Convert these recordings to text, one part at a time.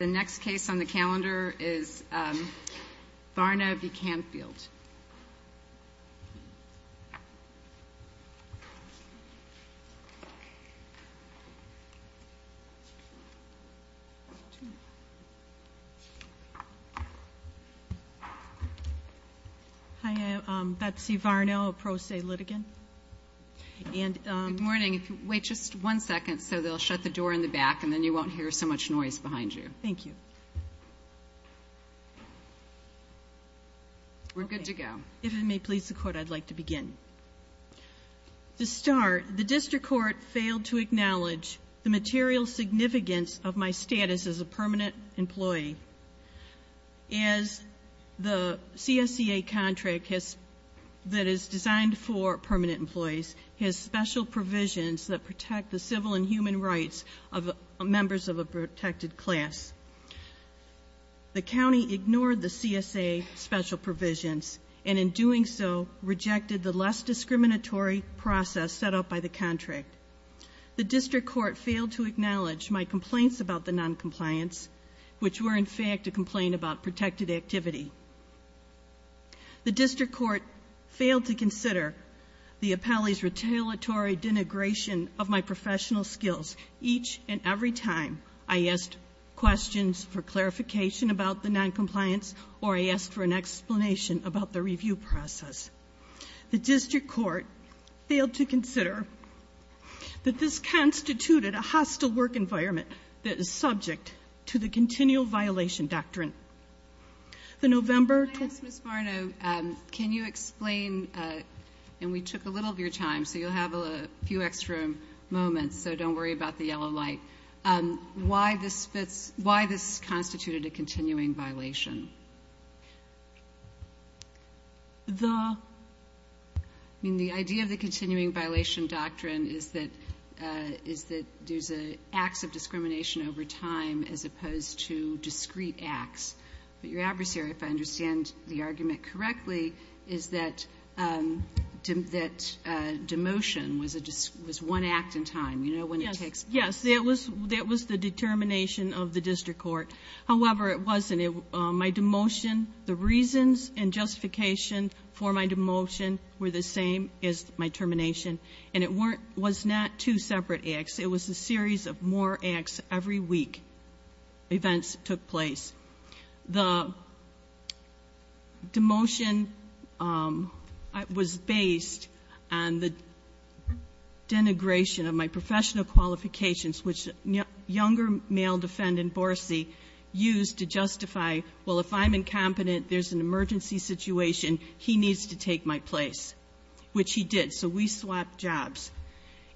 The next case on the calendar is Varno v. Canfield. Hi, I'm Betsy Varno, a pro se litigant. Good morning. Wait just one second so they'll shut the door in the back and then you won't hear so much noise behind you. Thank you. We're good to go. If it may please the court, I'd like to begin. To start, the district court failed to acknowledge the material significance of my status as a permanent employee. As the CSEA contract that is designed for permanent employees has special provisions that protect the civil and human rights of members of a protected class. The county ignored the CSEA special provisions and in doing so rejected the less discriminatory process set up by the contract. The district court failed to acknowledge my complaints about the noncompliance, which were in fact a complaint about protected activity. The district court failed to consider the appellee's retaliatory denigration of my professional skills each and every time I asked questions for clarification about the noncompliance or I asked for an explanation about the review process. The district court failed to consider that this constituted a hostile work environment that is subject to the continual violation doctrine. The November 20th. Ms. Marno, can you explain, and we took a little of your time so you'll have a few extra moments so don't worry about the yellow light, why this constituted a continuing violation? I mean the idea of the continuing violation doctrine is that there's acts of discrimination over time as opposed to discrete acts. But your adversary, if I understand the argument correctly, is that demotion was one act in time. Yes, that was the determination of the district court. However, it wasn't. My demotion, the reasons and justification for my demotion were the same as my termination, and it was not two separate acts. It was a series of more acts every week. Events took place. The demotion was based on the denigration of my professional qualifications, which younger male defendant, Borsy, used to justify, well, if I'm incompetent, there's an emergency situation, he needs to take my place, which he did. So we swapped jobs.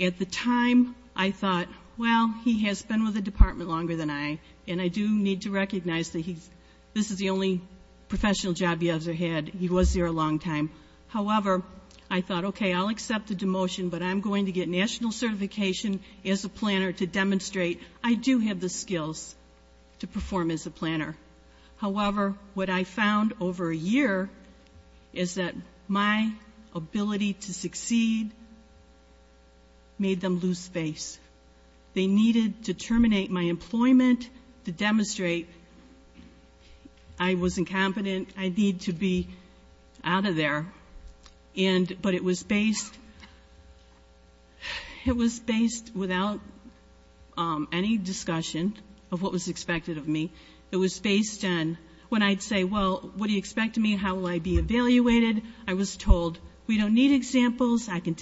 At the time, I thought, well, he has been with the department longer than I, and I do need to recognize that this is the only professional job he ever had. He was there a long time. However, I thought, okay, I'll accept the demotion, but I'm going to get national certification as a planner to demonstrate I do have the skills to perform as a planner. However, what I found over a year is that my ability to succeed made them lose face. They needed to terminate my employment to demonstrate I was incompetent, I need to be out of there. But it was based without any discussion of what was expected of me. It was based on when I'd say, well, what do you expect of me? How will I be evaluated? I was told, we don't need examples. And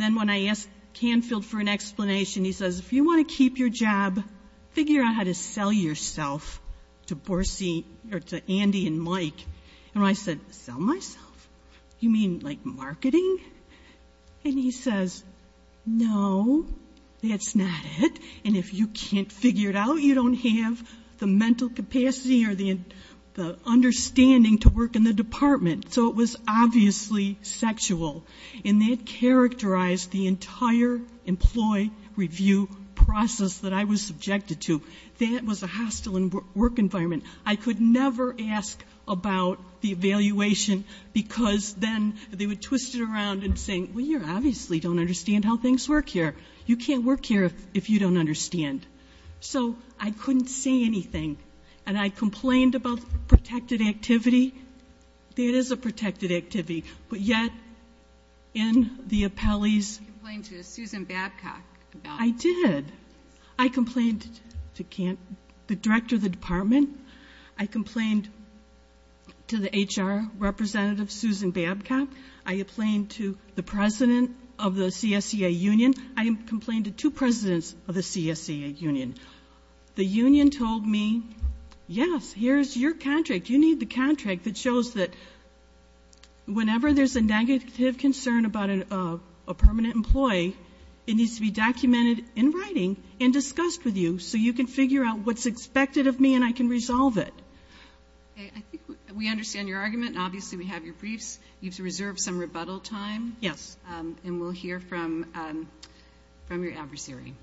then when I asked Canfield for an explanation, he says, if you want to keep your job, figure out how to sell yourself to Andy and Mike. And I said, sell myself? You mean like marketing? And he says, no, that's not it. And if you can't figure it out, you don't have the mental capacity or the understanding to work in the department. So it was obviously sexual. And that characterized the entire employee review process that I was subjected to. That was a hostile work environment. I could never ask about the evaluation because then they would twist it around and say, well, you obviously don't understand how things work here. You can't work here if you don't understand. So I couldn't say anything. And I complained about protected activity. That is a protected activity. But yet, in the appellee's- You complained to Susan Babcock about- I did. I complained to the director of the department. I complained to the HR representative, Susan Babcock. I complained to the president of the CSEA union. I complained to two presidents of the CSEA union. The union told me, yes, here's your contract. You need the contract that shows that whenever there's a negative concern about a permanent employee, it needs to be documented in writing and discussed with you so you can figure out what's expected of me and I can resolve it. I think we understand your argument. Obviously we have your briefs. You've reserved some rebuttal time. Yes. And we'll hear from your adversary. Thank you.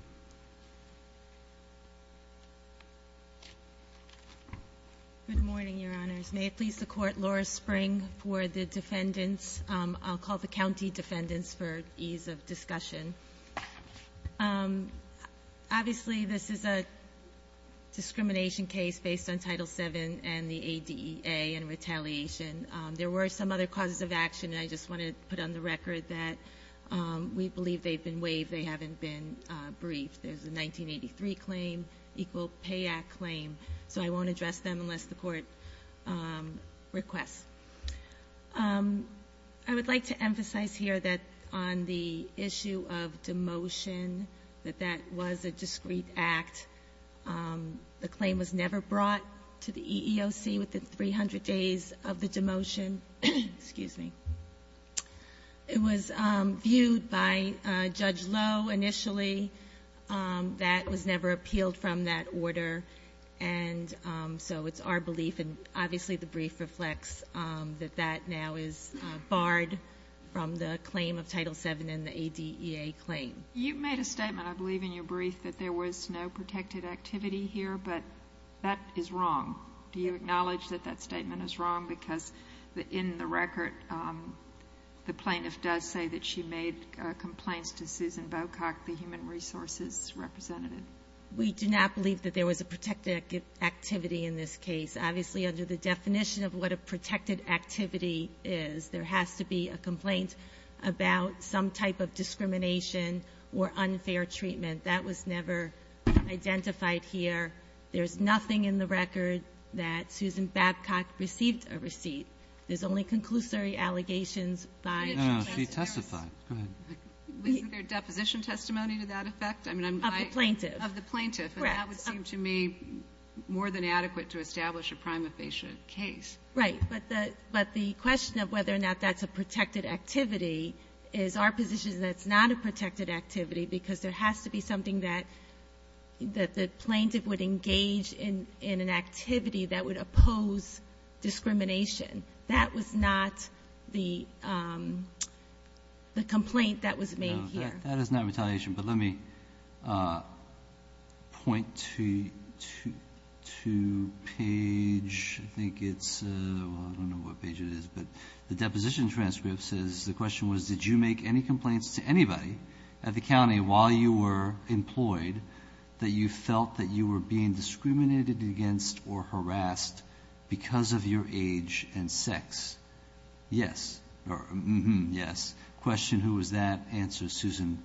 Good morning, Your Honors. May it please the Court, Laura Spring for the defendants. I'll call the county defendants for ease of discussion. Obviously this is a discrimination case based on Title VII and the ADEA and retaliation. There were some other causes of action, and I just want to put on the record that we believe they've been waived. They haven't been briefed. There's a 1983 claim, Equal Pay Act claim, so I won't address them unless the Court requests. I would like to emphasize here that on the issue of demotion, that that was a discreet act. The claim was never brought to the EEOC within 300 days of the demotion. Excuse me. It was viewed by Judge Lowe initially. That was never appealed from that order, and so it's our belief, and obviously the brief reflects that that now is barred from the claim of Title VII and the ADEA claim. You made a statement, I believe, in your brief that there was no protected activity here, but that is wrong. Do you acknowledge that that statement is wrong? Because in the record, the plaintiff does say that she made complaints to Susan Bocock, the human resources representative. We do not believe that there was a protected activity in this case. Obviously under the definition of what a protected activity is, there has to be a complaint about some type of discrimination or unfair treatment. That was never identified here. There's nothing in the record that Susan Bocock received a receipt. There's only conclusory allegations by the plaintiff. No, she testified. Go ahead. Wasn't there deposition testimony to that effect? Of the plaintiff. Of the plaintiff. Correct. And that would seem to me more than adequate to establish a prima facie case. Right. But the question of whether or not that's a protected activity is our position is that it's not a protected activity because there has to be something that the plaintiff would engage in an activity that would oppose discrimination. That was not the complaint that was made here. No, that is not retaliation. But let me point to page, I think it's, well, I don't know what page it is. But the deposition transcript says the question was, did you make any complaints to anybody at the county while you were employed that you felt that you were being discriminated against or harassed because of your age and sex? Yes. Yes. Question, who was that? Answer, Susan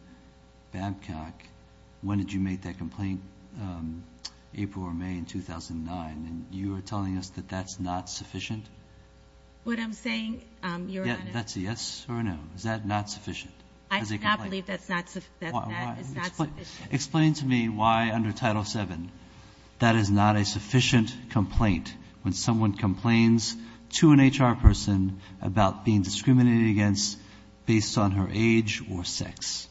Babcock. When did you make that complaint? April or May in 2009. And you are telling us that that's not sufficient? What I'm saying, Your Honor. That's a yes or a no? Is that not sufficient as a complaint? I do not believe that's not sufficient. Explain to me why under Title VII that is not a sufficient complaint when someone complains to an HR person about being discriminated against based on her age or sex.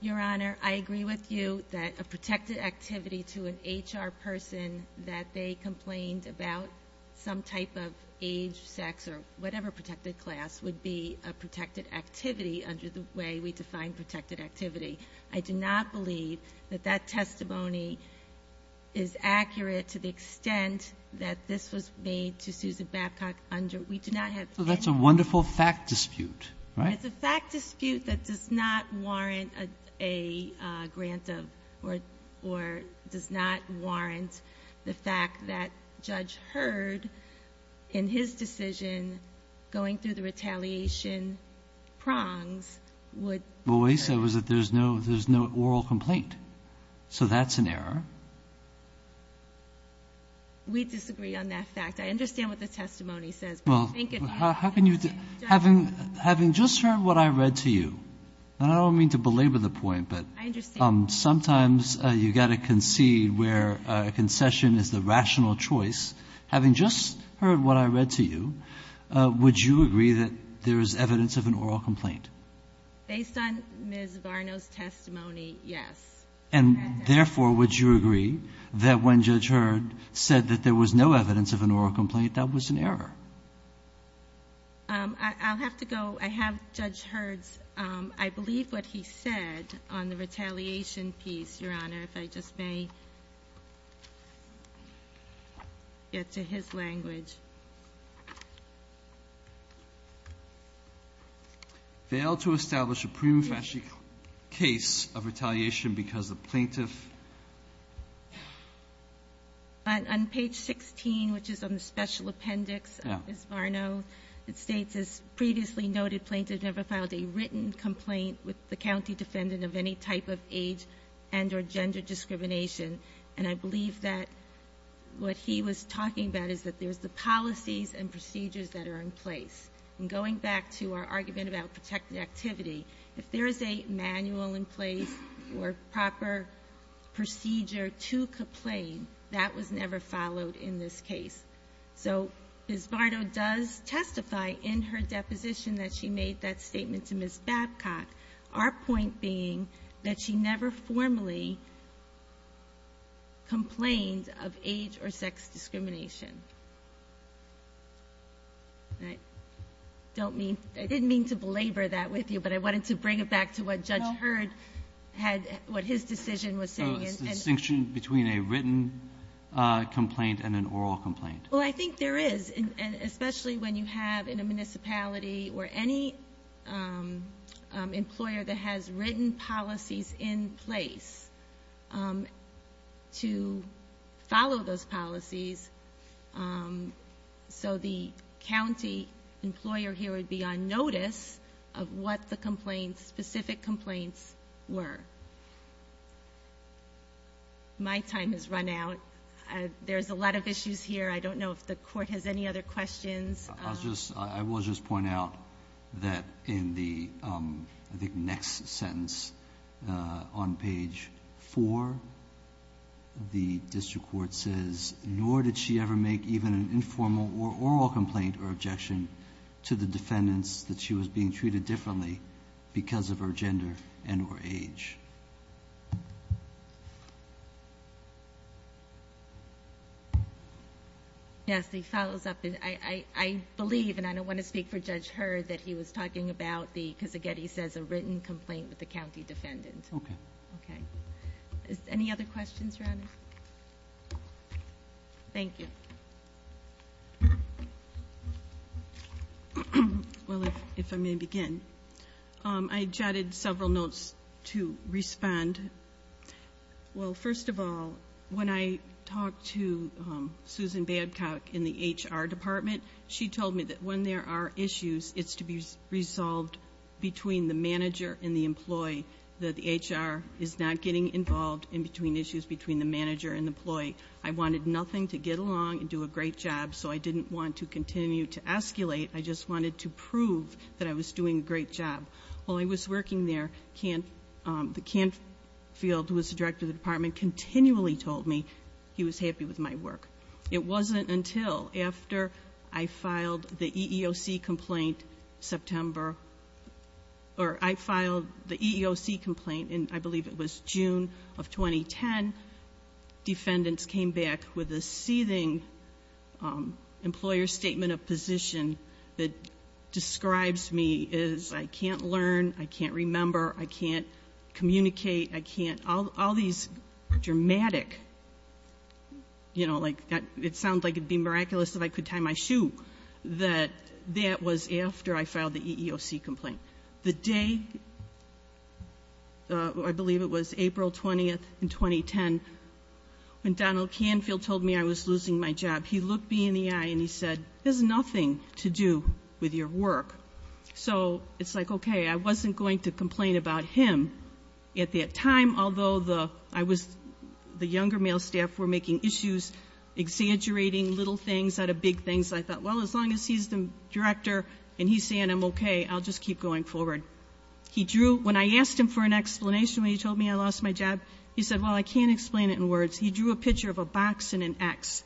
Your Honor, I agree with you that a protected activity to an HR person that they complained about some type of age, sex, or whatever protected class would be a protected activity under the way we define protected activity. I do not believe that that testimony is accurate to the extent that this was made to Susan Babcock under, we do not have. So that's a wonderful fact dispute, right? It's a fact dispute that does not warrant a grant of or does not warrant the fact that Judge Heard, in his decision going through the retaliation prongs, would. What we said was that there's no oral complaint. So that's an error. We disagree on that fact. I understand what the testimony says. Well, how can you, having just heard what I read to you, and I don't mean to belabor the point, but sometimes you've got to concede where a concession is the rational choice. Having just heard what I read to you, would you agree that there is evidence of an oral complaint? Based on Ms. Varno's testimony, yes. And therefore, would you agree that when Judge Heard said that there was no evidence of an oral complaint, that was an error? I'll have to go. I have Judge Heard's, I believe, what he said on the retaliation piece, Your Honor, if I just may get to his language. Failed to establish a prima facie case of retaliation because the plaintiff On page 16, which is on the special appendix of Ms. Varno, it states, as previously noted, plaintiff never filed a written complaint with the county defendant of any type of age and or gender discrimination. And I believe that what he was talking about is that there's the policies and procedures that are in place. And going back to our argument about protected activity, if there is a manual in place or proper procedure to complain, that was never followed in this case. So Ms. Varno does testify in her deposition that she made that statement to Ms. Babcock. Our point being that she never formally complained of age or sex discrimination. I don't mean, I didn't mean to belabor that with you, but I wanted to bring it back to what Judge Heard had, what his decision was saying. So it's a distinction between a written complaint and an oral complaint. Well, I think there is, and especially when you have in a municipality or any employer that has written policies in place to follow those policies so the county employer here would be on notice of what the specific complaints were. My time has run out. There's a lot of issues here. I don't know if the court has any other questions. I will just point out that in the next sentence on page 4, the district court says, nor did she ever make even an informal or oral complaint or objection to the defendants that she was being treated differently because of her gender and her age. Yes, he follows up. I believe, and I don't want to speak for Judge Heard, that he was talking about the, because again, he says a written complaint with the county defendant. Okay. Okay. Any other questions, Your Honor? Thank you. Well, if I may begin. I jotted several notes to respond. Well, first of all, when I talked to Susan Badcock in the HR department, she told me that when there are issues, it's to be resolved between the manager and the employee, that the HR is not getting involved in issues between the manager and the employee. I wanted nothing to get along and do a great job, so I didn't want to continue to escalate. I just wanted to prove that I was doing a great job. While I was working there, the Canfield, who was the director of the department, continually told me he was happy with my work. It wasn't until after I filed the EEOC complaint September, or I filed the EEOC complaint, and I believe it was June of 2010, defendants came back with a seething employer statement of position that describes me as I can't learn, I can't remember, I can't communicate, I can't, all these dramatic, you know, like it sounds like it would be miraculous if I could tie my shoe, that that was after I filed the EEOC complaint. The day, I believe it was April 20th in 2010, when Donald Canfield told me I was losing my job, he looked me in the eye and he said, there's nothing to do with your work. So it's like, okay, I wasn't going to complain about him at that time, although the younger male staff were making issues, exaggerating little things out of big things. I thought, well, as long as he's the director and he's saying I'm okay, I'll just keep going forward. He drew, when I asked him for an explanation when he told me I lost my job, he said, well, I can't explain it in words. He drew a picture of a box and an X.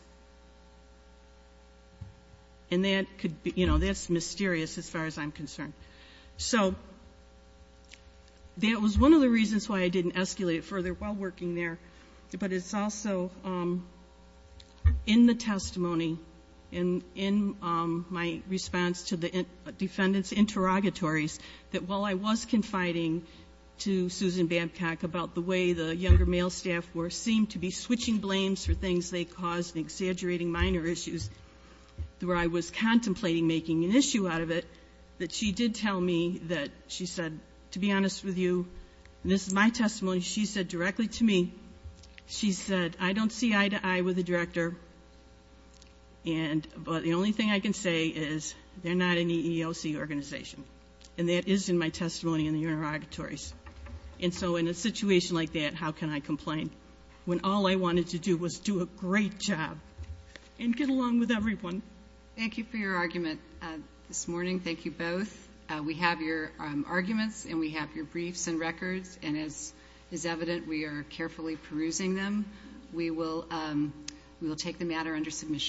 And that could be, you know, that's mysterious as far as I'm concerned. So that was one of the reasons why I didn't escalate further while working there. But it's also in the testimony, in my response to the defendant's interrogatories, that while I was confiding to Susan Babcock about the way the younger male staff seemed to be switching blames for things they caused and exaggerating minor issues, where I was contemplating making an issue out of it, that she did tell me that she said, to be honest with you, and this is my testimony, she said directly to me, she said, I don't see eye to eye with the director, but the only thing I can say is they're not an EEOC organization. And that is in my testimony in the interrogatories. And so in a situation like that, how can I complain when all I wanted to do was do a great job and get along with everyone? Thank you for your argument this morning. Thank you both. We have your arguments and we have your briefs and records, and as is evident, we are carefully perusing them. We will take the matter under submission.